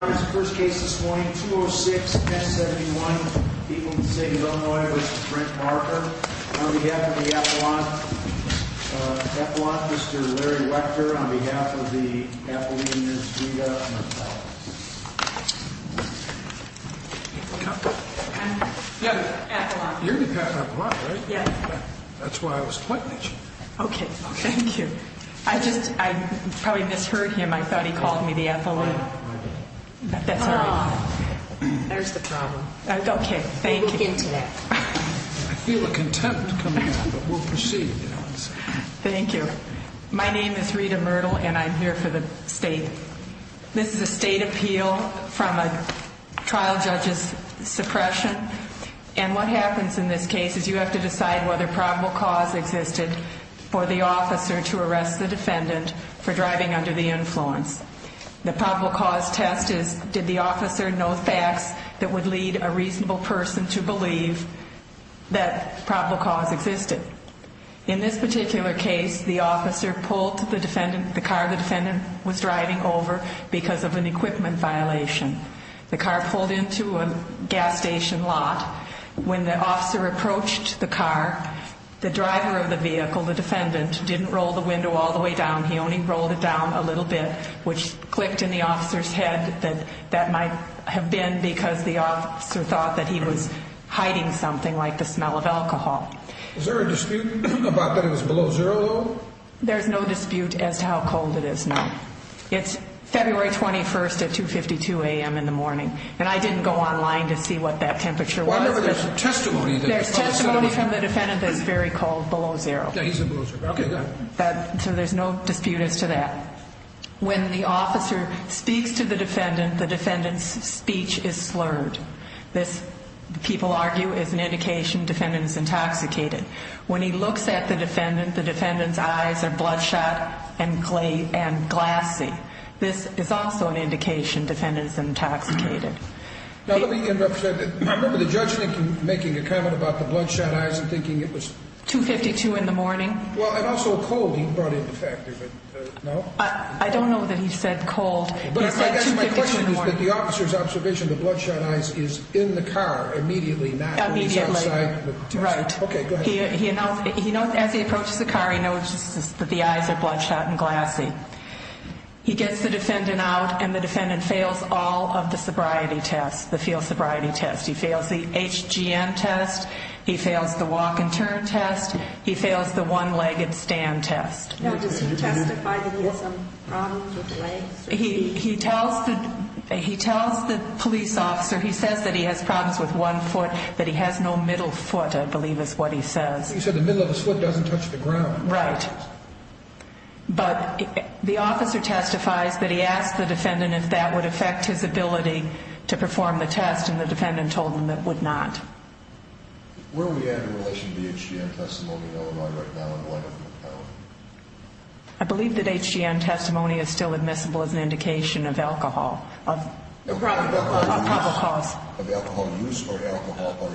First case this morning, 206-1071, people in the city of Illinois, this is Brent Marker. On behalf of the Ethelon, Ethelon, Mr. Larry Wechter, on behalf of the Ethelene, Ms. Vida, and the Ethelon. Ethelene. There's the problem. Okay, thank you. I feel a contempt coming out, but we'll proceed. Thank you. My name is Rita Myrtle, and I'm here for the state. This is a state appeal from a trial judge's suppression. And what happens in this case is you have to decide whether probable cause existed for the officer to arrest the defendant for driving under the influence. The probable cause test is did the officer know facts that would lead a reasonable person to believe that probable cause existed. In this particular case, the officer pulled the defendant, the car the defendant was driving over because of an equipment violation. The car pulled into a gas station lot. When the officer approached the car, the driver of the vehicle, the defendant, didn't roll the window all the way down. He only rolled it down a little bit, which clicked in the officer's head that that might have been because the officer thought that he was hiding something like the smell of alcohol. Is there a dispute about that it was below zero? There's no dispute as to how cold it is now. It's February 21st at 2 52 a.m. in the morning, and I didn't go online to see what that temperature was. There's testimony from the defendant that is very cold below zero. So there's no dispute as to that. When the officer speaks to the defendant, the defendant's speech is slurred. This, people argue, is an indication defendant is intoxicated. When he looks at the defendant, the defendant's eyes are bloodshot and clay and glassy. This is also an indication defendant is intoxicated. Now, let me interrupt you. I remember the judge making a comment about the bloodshot eyes and thinking it was 2 52 in the morning. Well, and also cold. He brought in the fact that I don't know that he said cold, but I guess my question is that the officer's observation, the bloodshot eyes is in the car immediately. As he approaches the car, he notices that the eyes are bloodshot and glassy. He gets the defendant out, and the defendant fails all of the sobriety tests, the field sobriety test. He fails the HGN test. He fails the walk and turn test. He fails the one-legged stand test. He tells the police officer he says that he has problems with one foot, that he has no middle foot. I believe is what he says. He said the middle of his foot doesn't touch the ground, right? But the officer testifies that he asked the defendant if that would affect his ability to perform the test, and the defendant told him that would not. Where are we at in relation to the HGN testimony right now? I believe that HGN testimony is still admissible as an indication of alcohol, of probable cause. Of alcohol use or alcohol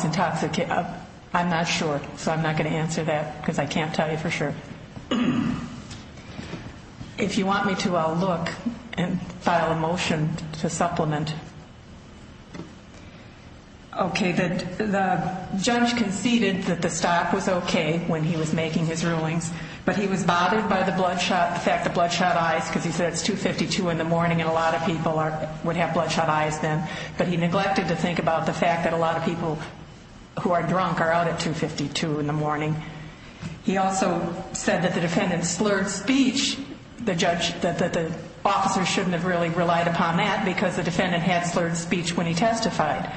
intoxication? I'm not sure, so I'm not going to answer that because I can't tell you for sure. If you want me to, I'll look and file a motion to supplement. Okay, the judge conceded that the stop was okay when he was making his rulings, but he was bothered by the fact that bloodshot eyes, because he said it's 2.52 in the morning and a lot of people would have bloodshot eyes then, but he neglected to think about the fact that a lot of people who are drunk are out at 2.52 in the morning. He also said that the defendant slurred speech, the judge, that the officer shouldn't have really relied upon that because the defendant had slurred speech when he testified.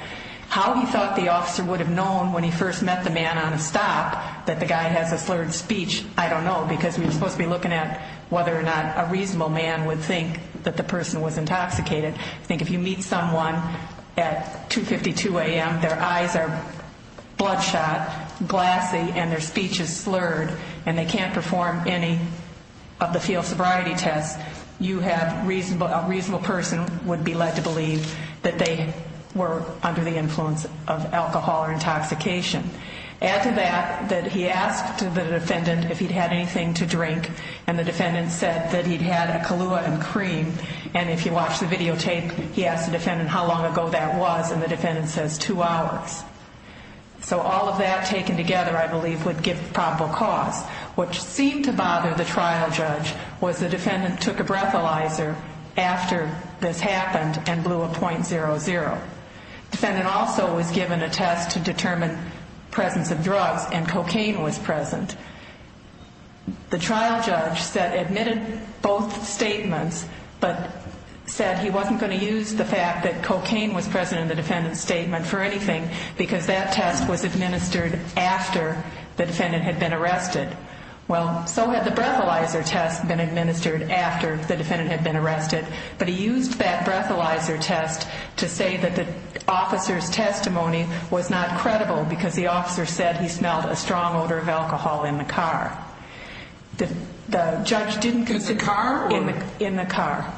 How he thought the officer would have known when he first met the man on a stop that the guy has a slurred speech, I don't know, because we're supposed to be looking at whether or not a reasonable man would think that the person was intoxicated. I think if you meet someone at 2.52 a.m., their eyes are bloodshot, glassy, and their speech is slurred, and they can't perform any of the field sobriety tests, a reasonable person would be led to believe that they were under the influence of alcohol or intoxication. Add to that that he asked the defendant if he'd had anything to drink, and the defendant said that he'd had a Kahlua and cream, and if you watch the videotape, he asks the defendant how long ago that was, and the defendant says two hours. So all of that taken together, I believe, would give the probable cause. What seemed to bother the trial judge was the defendant took a breathalyzer after this happened and blew a .00. The defendant also was given a test to determine the presence of drugs, and cocaine was present. The trial judge admitted both statements, but said he wasn't going to use the fact that cocaine was present in the defendant's statement for anything because that test was administered after the defendant had been arrested. Well, so had the breathalyzer test been administered after the defendant had been arrested, but he used that breathalyzer test to say that the officer's testimony was not credible because the officer said he smelled a strong odor of alcohol in the car. The judge didn't consider... In the car? In the car.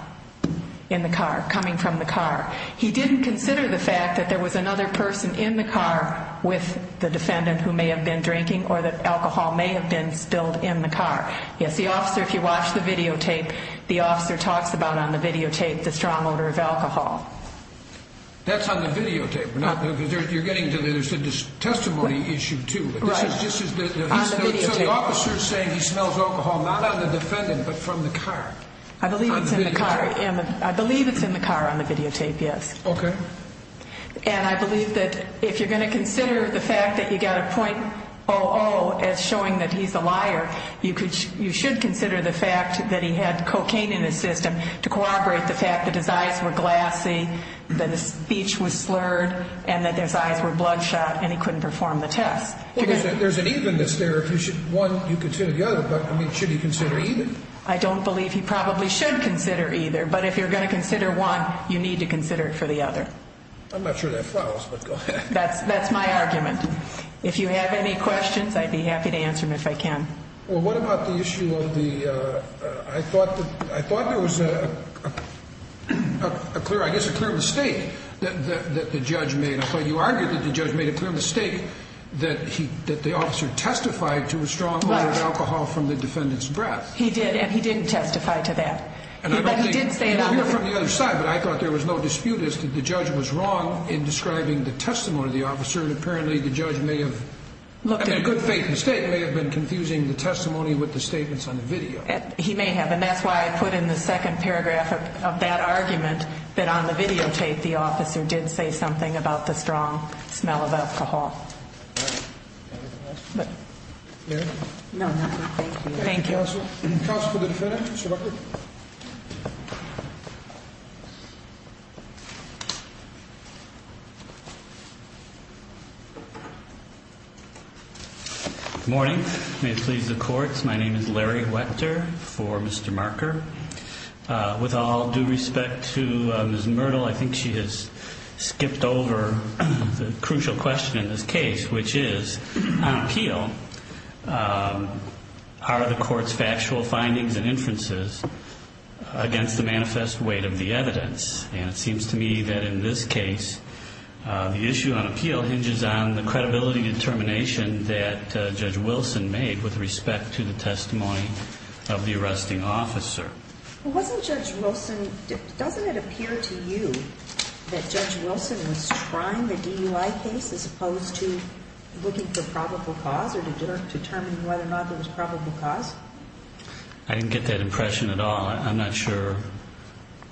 In the car, coming from the car. He didn't consider the fact that there was another person in the car with the defendant who may have been drinking or that alcohol may have been spilled in the car. Yes, the officer, if you watch the videotape, the officer talks about on the videotape the strong odor of alcohol. That's on the videotape. You're getting to the testimony issue, too. Right. So the officer's saying he smells alcohol not on the defendant, but from the car. I believe it's in the car. On the videotape. I believe it's in the car on the videotape, yes. Okay. And I believe that if you're going to consider the fact that you got a .00 as showing that he's a liar, you should consider the fact that he had cocaine in his system to corroborate the fact that his eyes were glassy, that his speech was slurred, and that his eyes were bloodshot, and he couldn't perform the test. There's an evenness there. One, you consider the other, but should he consider even? I don't believe he probably should consider either, but if you're going to consider one, you need to consider it for the other. I'm not sure that follows, but go ahead. That's my argument. If you have any questions, I'd be happy to answer them if I can. Well, what about the issue of the ‑‑ I thought there was a clear ‑‑ I guess a clear mistake that the judge made. I thought you argued that the judge made a clear mistake that the officer testified to a strong odor of alcohol from the defendant's breath. He did, and he didn't testify to that. I hear it from the other side, but I thought there was no dispute as to the judge was wrong in describing the testimony of the officer, and apparently the judge may have ‑‑ I mean, a good faith mistake may have been confusing the testimony with the statements on the video. He may have, and that's why I put in the second paragraph of that argument that on the videotape the officer did say something about the strong smell of alcohol. Mary? No, nothing. Thank you. Thank you. Counsel for the defendant, Mr. Rucker. Good morning. May it please the courts, my name is Larry Wetter for Mr. Marker. With all due respect to Ms. Myrtle, I think she has skipped over the crucial question in this case, which is on appeal are the court's factual findings and inferences against the manifest weight of the evidence? And it seems to me that in this case the issue on appeal hinges on the credibility determination that Judge Wilson made with respect to the testimony of the arresting officer. Wasn't Judge Wilson ‑‑ doesn't it appear to you that Judge Wilson was trying the DUI case as opposed to looking for probable cause or determining whether or not there was probable cause? I didn't get that impression at all. I'm not sure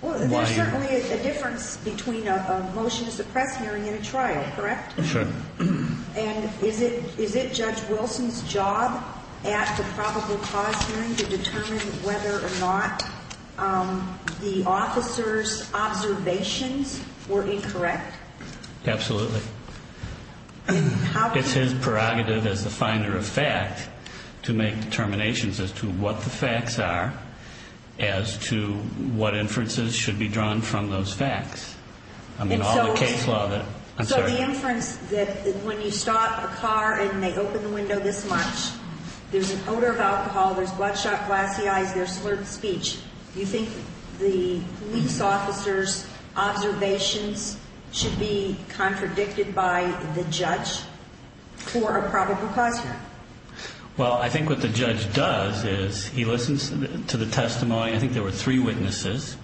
why. There's certainly a difference between a motion to suppress hearing and a trial, correct? Sure. And is it Judge Wilson's job at the probable cause hearing to determine whether or not the officer's observations were incorrect? Absolutely. It's his prerogative as the finder of fact to make determinations as to what the facts are, as to what inferences should be drawn from those facts. So the inference that when you stop a car and they open the window this much, there's an odor of alcohol, there's bloodshot glassy eyes, there's slurred speech, you think the police officer's observations should be contradicted by the judge for a probable cause hearing? Well, I think what the judge does is he listens to the testimony. I think there were three witnesses.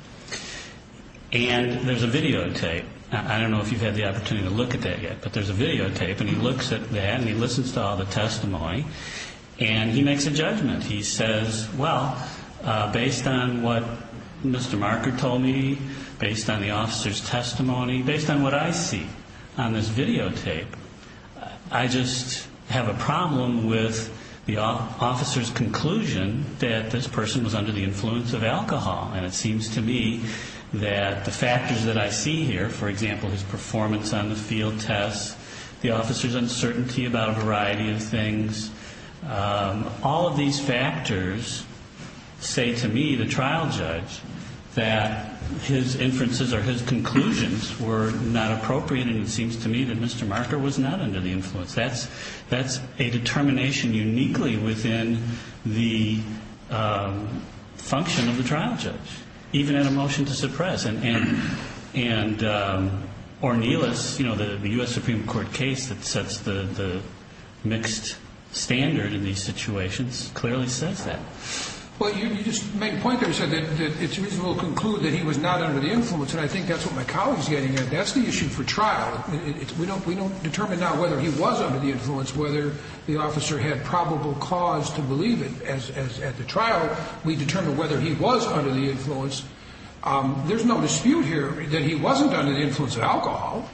And there's a videotape. I don't know if you've had the opportunity to look at that yet, but there's a videotape, and he looks at that, and he listens to all the testimony, and he makes a judgment. He says, well, based on what Mr. Marker told me, based on the officer's testimony, based on what I see on this videotape, I just have a problem with the officer's conclusion that this person was under the influence of alcohol. And it seems to me that the factors that I see here, for example, his performance on the field test, the officer's uncertainty about a variety of things, all of these factors say to me, the trial judge, that his inferences or his conclusions were not appropriate, and it seems to me that Mr. Marker was not under the influence. That's a determination uniquely within the function of the trial judge, even in a motion to suppress. And Ornelas, you know, the U.S. Supreme Court case that sets the mixed standard in these situations clearly says that. Well, you just make a point there, sir, that it's reasonable to conclude that he was not under the influence, and I think that's what my colleague's getting at. That's the issue for trial. We don't determine now whether he was under the influence, whether the officer had probable cause to believe it. At the trial, we determine whether he was under the influence. There's no dispute here that he wasn't under the influence of alcohol,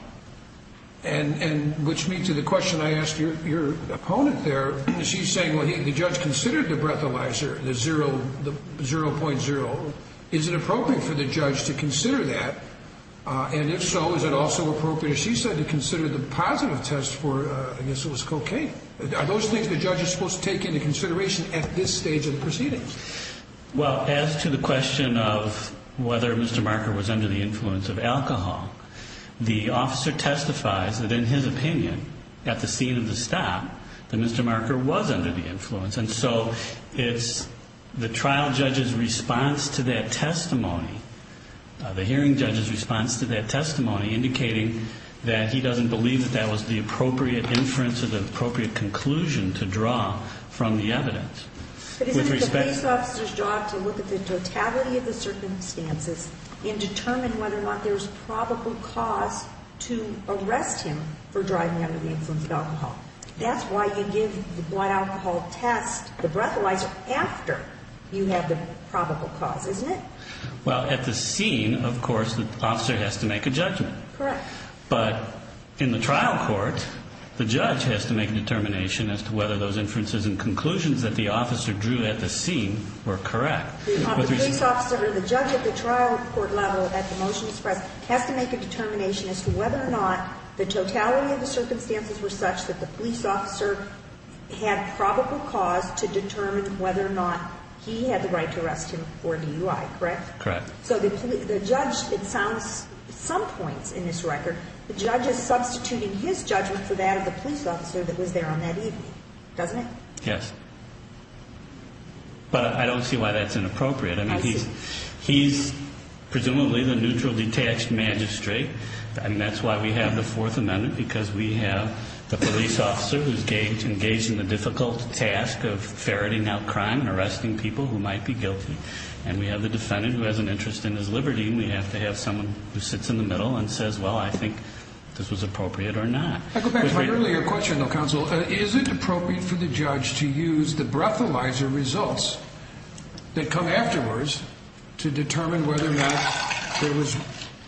which leads to the question I asked your opponent there. She's saying, well, the judge considered the breathalyzer, the 0.0. Is it appropriate for the judge to consider that? And if so, is it also appropriate, as she said, to consider the positive test for, I guess it was cocaine? Are those things the judge is supposed to take into consideration at this stage of the proceedings? Well, as to the question of whether Mr. Marker was under the influence of alcohol, the officer testifies that in his opinion, at the scene of the stop, that Mr. Marker was under the influence. And so it's the trial judge's response to that testimony, the hearing judge's response to that testimony, indicating that he doesn't believe that that was the appropriate inference or the appropriate conclusion to draw from the evidence. But isn't it the police officer's job to look at the totality of the circumstances and determine whether or not there's probable cause to arrest him for driving under the influence of alcohol? That's why you give the blood alcohol test, the breathalyzer, after you have the probable cause, isn't it? Well, at the scene, of course, the officer has to make a judgment. Correct. But in the trial court, the judge has to make a determination as to whether those inferences and conclusions that the officer drew at the scene were correct. The police officer or the judge at the trial court level at the motion expressed has to make a determination as to whether or not the totality of the circumstances were such that the police officer had probable cause to determine whether or not he had the right to arrest him for DUI, correct? Correct. So the judge, it sounds at some points in this record, the judge is substituting his judgment for that of the police officer that was there on that evening, doesn't it? Yes. But I don't see why that's inappropriate. I see. I mean, he's presumably the neutral detached magistrate, and that's why we have the Fourth Amendment, because we have the police officer who's engaged in the difficult task of ferreting out crime and arresting people who might be guilty, and we have the defendant who has an interest in his liberty, and we have to have someone who sits in the middle and says, well, I think this was appropriate or not. I go back to my earlier question, though, counsel. Is it appropriate for the judge to use the breathalyzer results that come afterwards to determine whether or not there was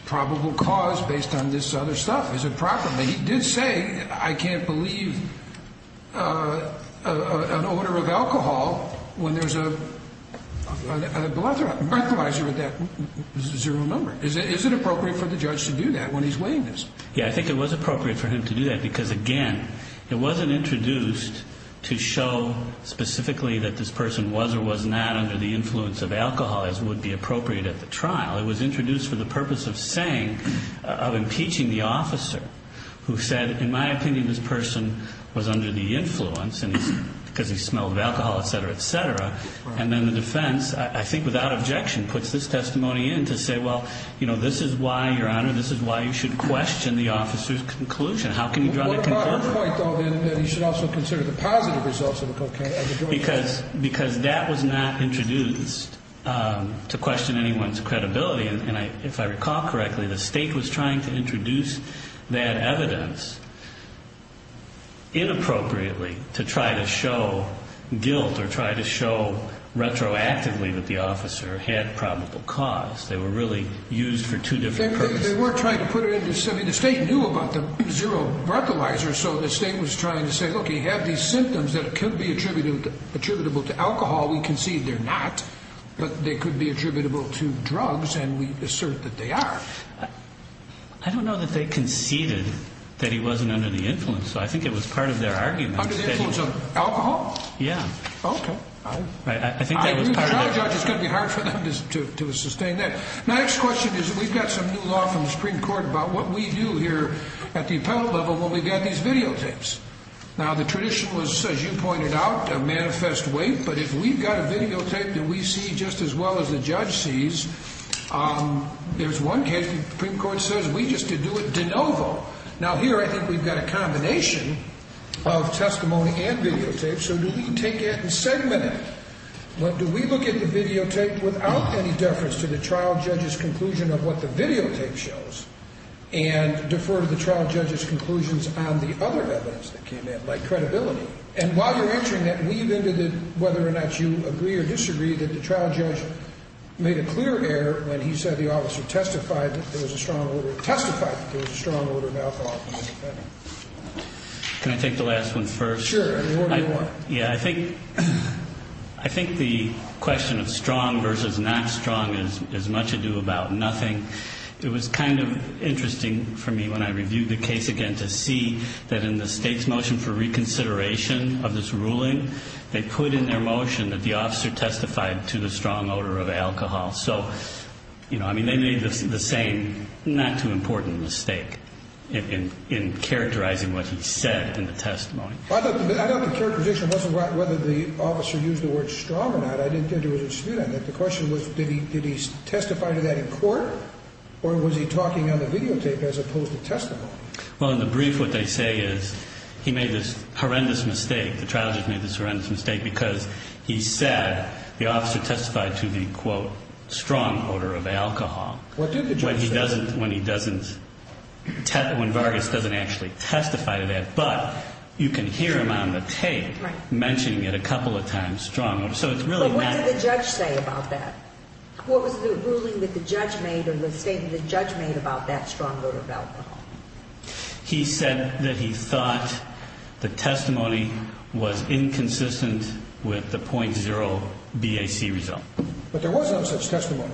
probable cause based on this other stuff? Is it proper? He did say, I can't believe an order of alcohol when there's a breathalyzer with that zero number. Is it appropriate for the judge to do that when he's weighing this? Yeah, I think it was appropriate for him to do that because, again, it wasn't introduced to show specifically that this person was or was not under the influence of alcohol, as would be appropriate at the trial. It was introduced for the purpose of saying, of impeaching the officer who said, in my opinion, this person was under the influence because he smelled of alcohol, et cetera, et cetera. And then the defense, I think without objection, puts this testimony in to say, well, you know, this is why, Your Honor, this is why you should question the officer's conclusion. How can you draw that conclusion? What about the point, though, that he should also consider the positive results of the cocaine? Because that was not introduced to question anyone's credibility. And if I recall correctly, the state was trying to introduce that evidence inappropriately to try to show guilt or try to show retroactively that the officer had probable cause. They were really used for two different purposes. They were trying to put it in to say, I mean, the state knew about the zero breathalyzer, so the state was trying to say, look, you have these symptoms that could be attributable to alcohol. We concede they're not, but they could be attributable to drugs, and we assert that they are. I don't know that they conceded that he wasn't under the influence, so I think it was part of their argument. Under the influence of alcohol? Yeah. Okay. I agree with the trial judge. It's going to be hard for them to sustain that. My next question is we've got some new law from the Supreme Court about what we do here at the appellate level when we've got these videotapes. Now, the tradition was, as you pointed out, a manifest wait, but if we've got a videotape that we see just as well as the judge sees, there's one case the Supreme Court says we just did do it de novo. Now, here I think we've got a combination of testimony and videotapes, so do we take it and segment it, or do we look at the videotape without any deference to the trial judge's conclusion of what the videotape shows and defer to the trial judge's conclusions on the other evidence that came in, like credibility? And while you're answering that, weave into it whether or not you agree or disagree that the trial judge made a clear error when he said the officer testified that there was a strong order of alcohol. Can I take the last one first? Sure. What do you want? Yeah, I think the question of strong versus not strong has much to do about nothing. It was kind of interesting for me when I reviewed the case again to see that in the state's motion for reconsideration of this ruling, they put in their motion that the officer testified to the strong order of alcohol. So, you know, I mean, they made the same not-too-important mistake in characterizing what he said in the testimony. I thought the characterization wasn't whether the officer used the word strong or not. I didn't think there was a dispute on that. The question was did he testify to that in court, or was he talking on the videotape as opposed to testimony? Well, in the brief, what they say is he made this horrendous mistake. The trial judge made this horrendous mistake because he said the officer testified to the, quote, strong order of alcohol. What did the judge say? What was the ruling that the judge made or the statement that the judge made about that strong order of alcohol? He said that he thought the testimony was inconsistent with the .0 BAC result. But there was no such testimony.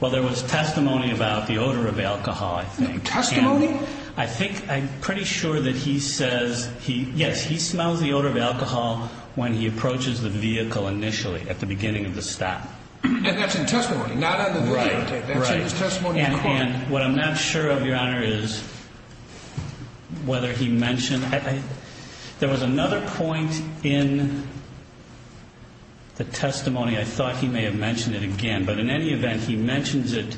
Well, there was testimony about the odor of alcohol. There was testimony about the odor of alcohol. Testimony? I think I'm pretty sure that he says he, yes, he smells the odor of alcohol when he approaches the vehicle initially at the beginning of the stop. And that's in testimony, not on the videotape. Right, right. That's in his testimony in court. And what I'm not sure of, Your Honor, is whether he mentioned... There was another point in the testimony. I thought he may have mentioned it again. But in any event, he mentions it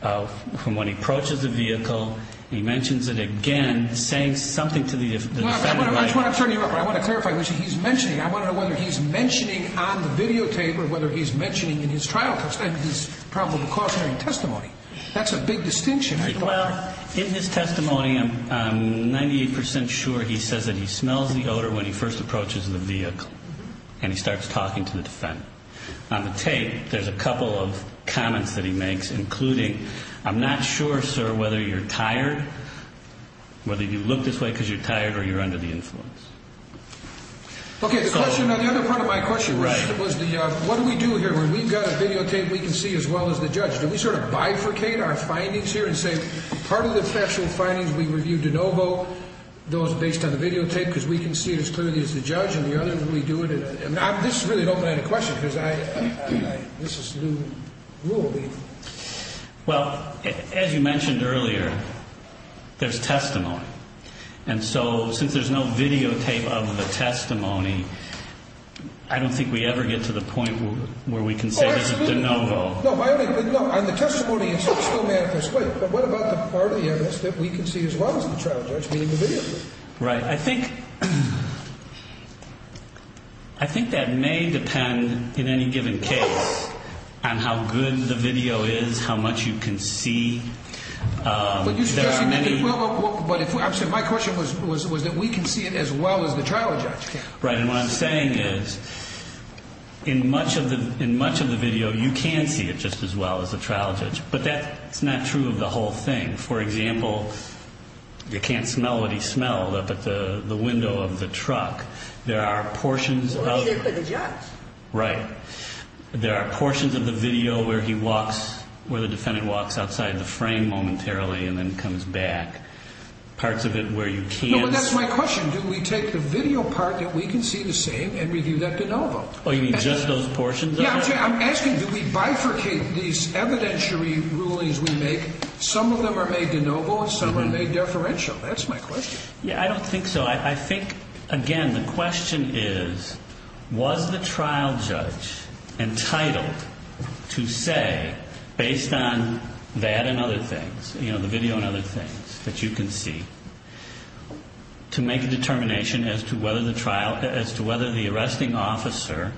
from when he approaches the vehicle. He mentions it again, saying something to the defendant. I want to clarify. He's mentioning. I want to know whether he's mentioning on the videotape or whether he's mentioning in his trial testimony, his probable cause hearing testimony. That's a big distinction. Well, in his testimony, I'm 98% sure he says that he smells the odor when he first approaches the vehicle and he starts talking to the defendant. On the tape, there's a couple of comments that he makes, including, I'm not sure, sir, whether you're tired, whether you look this way because you're tired or you're under the influence. Okay, the question on the other part of my question. Right. What do we do here? We've got a videotape we can see as well as the judge. Do we sort of bifurcate our findings here and say part of the factual findings we reviewed de novo, those based on the videotape, because we can see it as clearly as the judge and the other. And we do it. And this is really an open-ended question, because this is new rule. Well, as you mentioned earlier, there's testimony. And so since there's no videotape of the testimony, I don't think we ever get to the point where we can say this is de novo. No, and the testimony is still manifestly. But what about the part of the evidence that we can see as well as the trial judge, meaning the videotape? Right. I think that may depend in any given case on how good the video is, how much you can see. But you're suggesting that it will, but my question was that we can see it as well as the trial judge can. Right. And what I'm saying is in much of the video, you can see it just as well as the trial judge. But that's not true of the whole thing. For example, you can't smell what he smelled up at the window of the truck. There are portions of the video where he walks, where the defendant walks outside the frame momentarily and then comes back. Parts of it where you can't see. No, but that's my question. Do we take the video part that we can see the same and review that de novo? Oh, you mean just those portions of it? Yeah, I'm asking do we bifurcate these evidentiary rulings we make? Some of them are made de novo and some are made deferential. That's my question. Yeah, I don't think so. I think, again, the question is was the trial judge entitled to say, based on that and other things, you know, the video and other things that you can see, to make a determination as to whether the arresting officer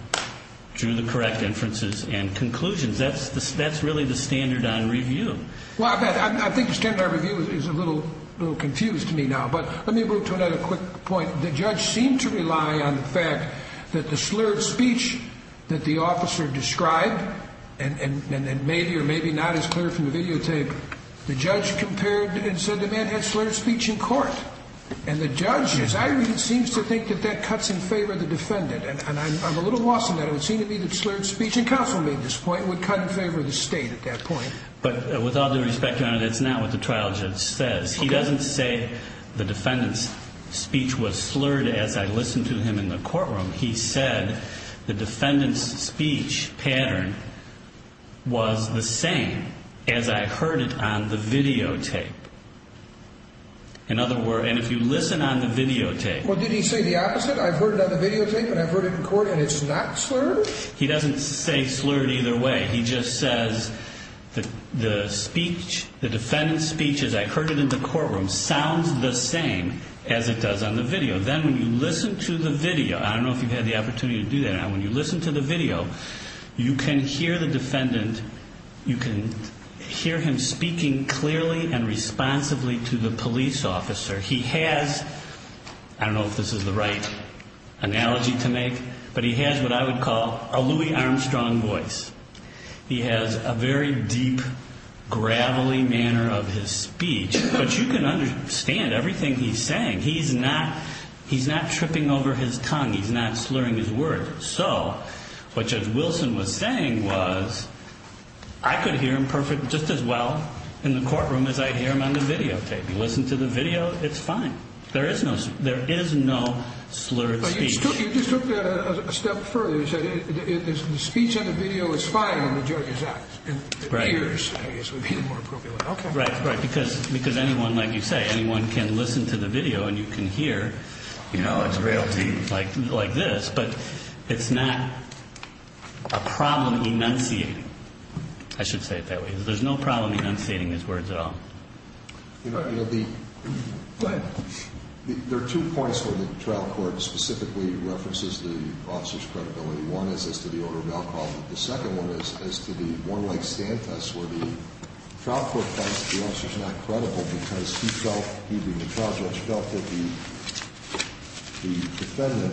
drew the correct inferences and conclusions? That's really the standard on review. Well, I think the standard on review is a little confused to me now. But let me move to another quick point. The judge seemed to rely on the fact that the slurred speech that the officer described, and maybe or maybe not as clear from the videotape, the judge compared and said the man had slurred speech in court. And the judge, as I read it, seems to think that that cuts in favor of the defendant. And I'm a little lost on that. It would seem to me that slurred speech, and counsel made this point, would cut in favor of the state at that point. But with all due respect, Your Honor, that's not what the trial judge says. He doesn't say the defendant's speech was slurred as I listened to him in the courtroom. He said the defendant's speech pattern was the same as I heard it on the videotape. In other words, and if you listen on the videotape. Well, did he say the opposite? I've heard it on the videotape, and I've heard it in court, and it's not slurred? He doesn't say slurred either way. He just says the speech, the defendant's speech as I heard it in the courtroom, sounds the same as it does on the video. Then when you listen to the video, I don't know if you've had the opportunity to do that, when you listen to the video, you can hear the defendant, you can hear him speaking clearly and responsibly to the police officer. He has, I don't know if this is the right analogy to make, but he has what I would call a Louis Armstrong voice. He has a very deep, gravelly manner of his speech, but you can understand everything he's saying. He's not tripping over his tongue. He's not slurring his words. So what Judge Wilson was saying was I could hear him just as well in the courtroom as I hear him on the videotape. If you listen to the video, it's fine. There is no slurred speech. But you just took that a step further. You said the speech on the video is fine when the judge is out. Right. The ears, I guess, would be more appropriate. Okay. Right, right, because anyone, like you say, anyone can listen to the video and you can hear, you know, it's real, like this, but it's not a problem enunciating. I should say it that way. There's no problem enunciating his words at all. Go ahead. There are two points where the trial court specifically references the officer's credibility. One is as to the order of malpractice. The second one is as to the one-leg stand test where the trial court finds that the officer's not credible because he felt, he in the trial judge felt that the defendant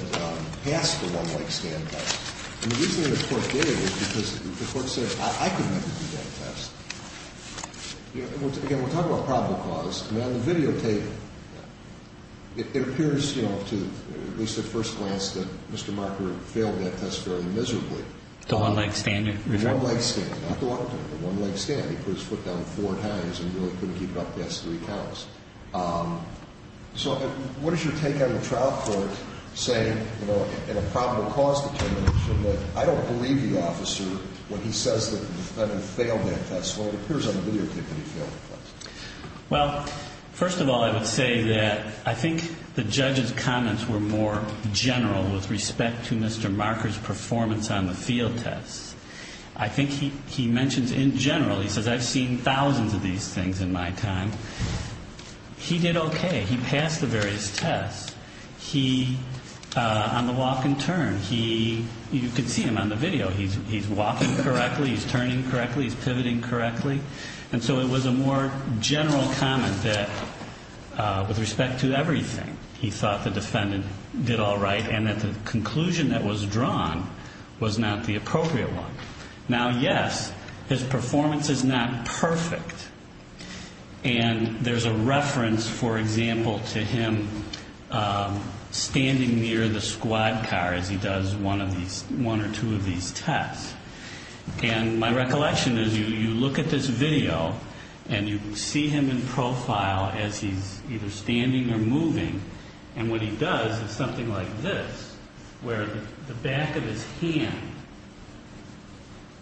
passed the one-leg stand test. And the reason the court did it was because the court said, I can never do that test. You know, again, we're talking about probable cause. I mean, on the video tape, it appears, you know, to at least at first glance that Mr. Marker failed that test very miserably. The one-leg stand? The one-leg stand, not the one-leg stand. He put his foot down four times and really couldn't keep it up past three counts. So what is your take on the trial court saying, you know, in a probable cause determination, that I don't believe the officer when he says that the defendant failed that test? Well, it appears on the video tape that he failed the test. Well, first of all, I would say that I think the judge's comments were more general with respect to Mr. Marker's performance on the field test. I think he mentions in general, he says, I've seen thousands of these things in my time. He did okay. He passed the various tests. He, on the walk and turn, he, you could see him on the video. He's walking correctly, he's turning correctly, he's pivoting correctly. And so it was a more general comment that with respect to everything, he thought the defendant did all right and that the conclusion that was drawn was not the appropriate one. Now, yes, his performance is not perfect. And there's a reference, for example, to him standing near the squad car as he does one of these, one or two of these tests. And my recollection is you look at this video and you see him in profile as he's either standing or moving. And what he does is something like this, where the back of his hand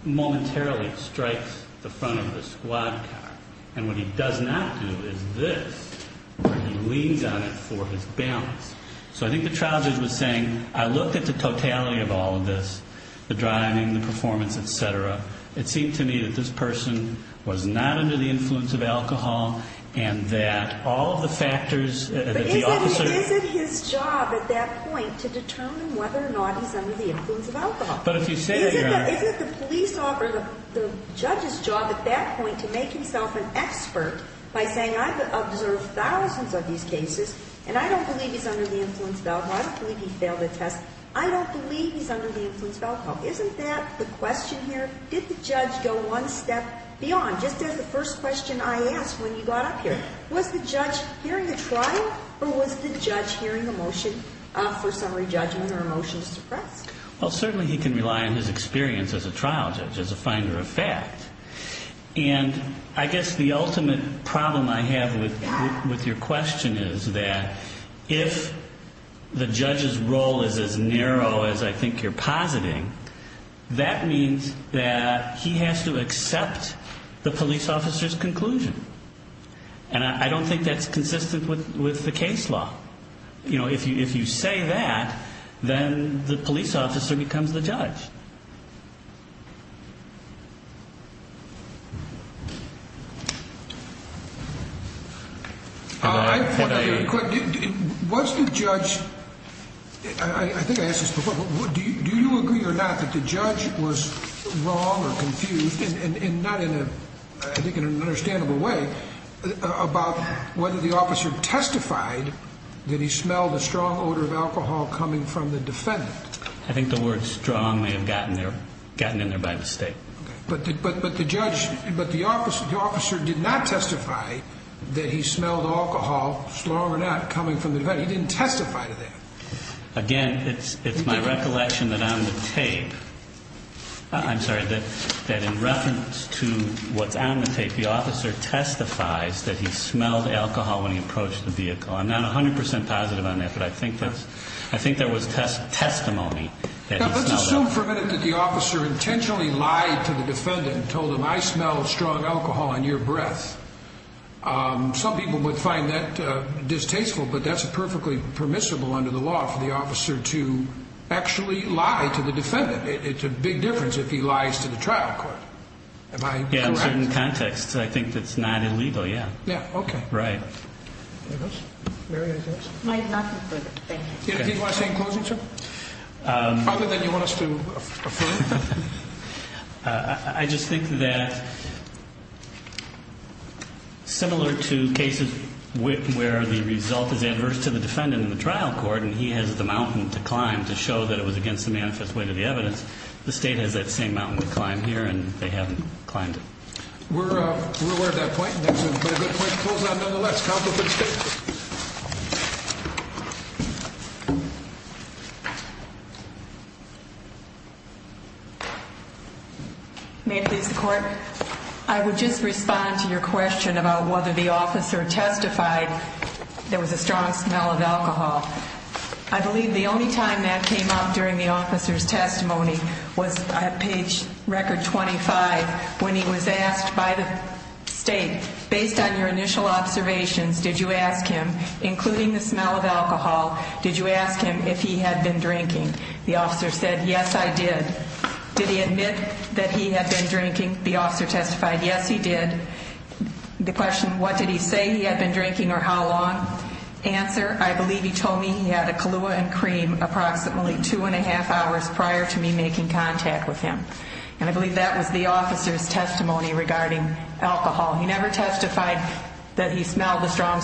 momentarily strikes the front of the squad car. And what he does not do is this, where he leans on it for his balance. So I think the trial judge was saying, I looked at the totality of all of this, the driving, the performance, et cetera. It seemed to me that this person was not under the influence of alcohol and that all of the factors that the officer. But is it his job at that point to determine whether or not he's under the influence of alcohol? But if you say that, Your Honor. Is it the police officer, the judge's job at that point to make himself an expert by saying I've observed thousands of these cases and I don't believe he's under the influence of alcohol, I don't believe he failed a test, I don't believe he's under the influence of alcohol. Isn't that the question here? Did the judge go one step beyond? Just as the first question I asked when you got up here. Was the judge hearing a trial or was the judge hearing a motion for summary judgment or a motion to suppress? Well, certainly he can rely on his experience as a trial judge, as a finder of fact. And I guess the ultimate problem I have with your question is that if the judge's role is as narrow as I think you're positing, that means that he has to accept the police officer's conclusion. And I don't think that's consistent with the case law. You know, if you say that, then the police officer becomes the judge. Was the judge, I think I asked this before, do you agree or not that the judge was wrong or confused, and not in a, I think in an understandable way, about whether the officer testified that he smelled a strong odor of alcohol coming from the defendant? I think the word strong may have gotten in there by mistake. But the judge, but the officer did not testify that he smelled alcohol, strong or not, coming from the defendant. He didn't testify to that. Again, it's my recollection that on the tape, I'm sorry, that in reference to what's on the tape, the officer testifies that he smelled alcohol when he approached the vehicle. I'm not 100 percent positive on that, but I think there was testimony that he smelled alcohol. If it wasn't for a minute that the officer intentionally lied to the defendant and told him, I smell strong alcohol on your breath, some people would find that distasteful, but that's perfectly permissible under the law for the officer to actually lie to the defendant. It's a big difference if he lies to the trial court. Yeah, in certain contexts, I think that's not illegal, yeah. Yeah, okay. Right. Mary, anything else? Do you want to say in closing, sir? Other than you want us to affirm? I just think that similar to cases where the result is adverse to the defendant in the trial court and he has the mountain to climb to show that it was against the manifest way to the evidence, the state has that same mountain to climb here and they haven't climbed it. We're aware of that point, and that's a good point to close on nonetheless. Counsel for the state. I would just respond to your question about whether the officer testified there was a strong smell of alcohol. I believe the only time that came up during the officer's testimony was at page record 25 when he was asked by the state, based on your initial observations, did you ask him, including the smell of alcohol, did you ask him if he had been drinking? The officer said, yes, I did. Did he admit that he had been drinking? The officer testified, yes, he did. The question, what did he say he had been drinking or how long? Answer, I believe he told me he had a Kahlua and cream approximately two and a half hours prior to me making contact with him. And I believe that was the officer's testimony regarding alcohol. He never testified that he smelled the strong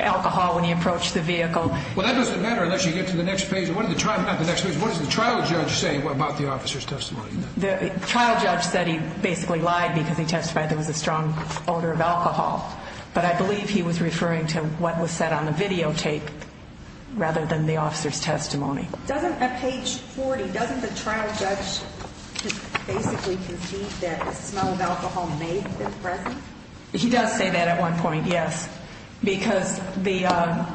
alcohol when he approached the vehicle. Well, that doesn't matter unless you get to the next page. What does the trial judge say about the officer's testimony? The trial judge said he basically lied because he testified there was a strong odor of alcohol. But I believe he was referring to what was said on the videotape rather than the officer's testimony. Doesn't at page 40, doesn't the trial judge basically concede that the smell of alcohol may have been present? He does say that at one point, yes. Because the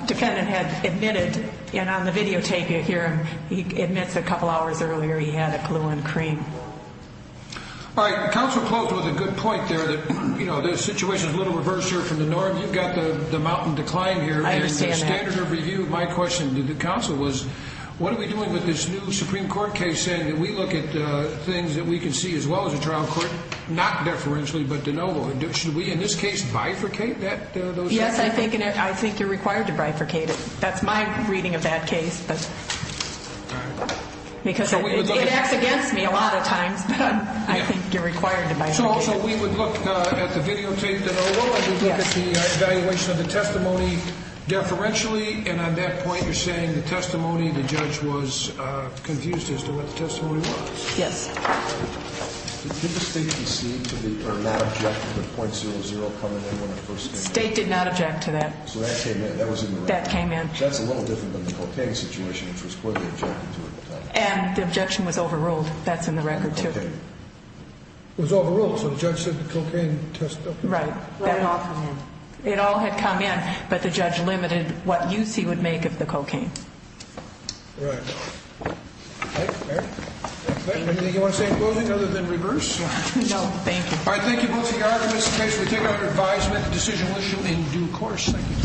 defendant had admitted, and on the videotape you hear him, he admits a couple hours earlier he had a Kahlua and cream. All right. Counsel closed with a good point there that, you know, the situation is a little reversed here from the norm. You've got the mountain to climb here. I understand that. And the standard of review of my question to the counsel was, what are we doing with this new Supreme Court case saying that we look at things that we can see as well as a trial court, not deferentially but de novo? Should we in this case bifurcate that? Yes, I think you're required to bifurcate it. That's my reading of that case. All right. Because it acts against me a lot of times, but I think you're required to bifurcate it. So also we would look at the videotape de novo, we would look at the evaluation of the testimony deferentially, and on that point you're saying the testimony, the judge was confused as to what the testimony was? Yes. Did the state concede to the or not object to the .00 coming in when it first came in? The state did not object to that. So that came in. That was in the record. That came in. That's a little different than the cocaine situation, which was clearly objected to at the time. And the objection was overruled. That's in the record too. Okay. It was overruled, so the judge said the cocaine test, okay. Right. Let it all come in. It all had come in, but the judge limited what use he would make of the cocaine. Right. Mary? Anything you want to say in closing other than reverse? No. Thank you. All right. Thank you both for your arguments in case we take out your advisement. The decision will issue in due course. Thank you.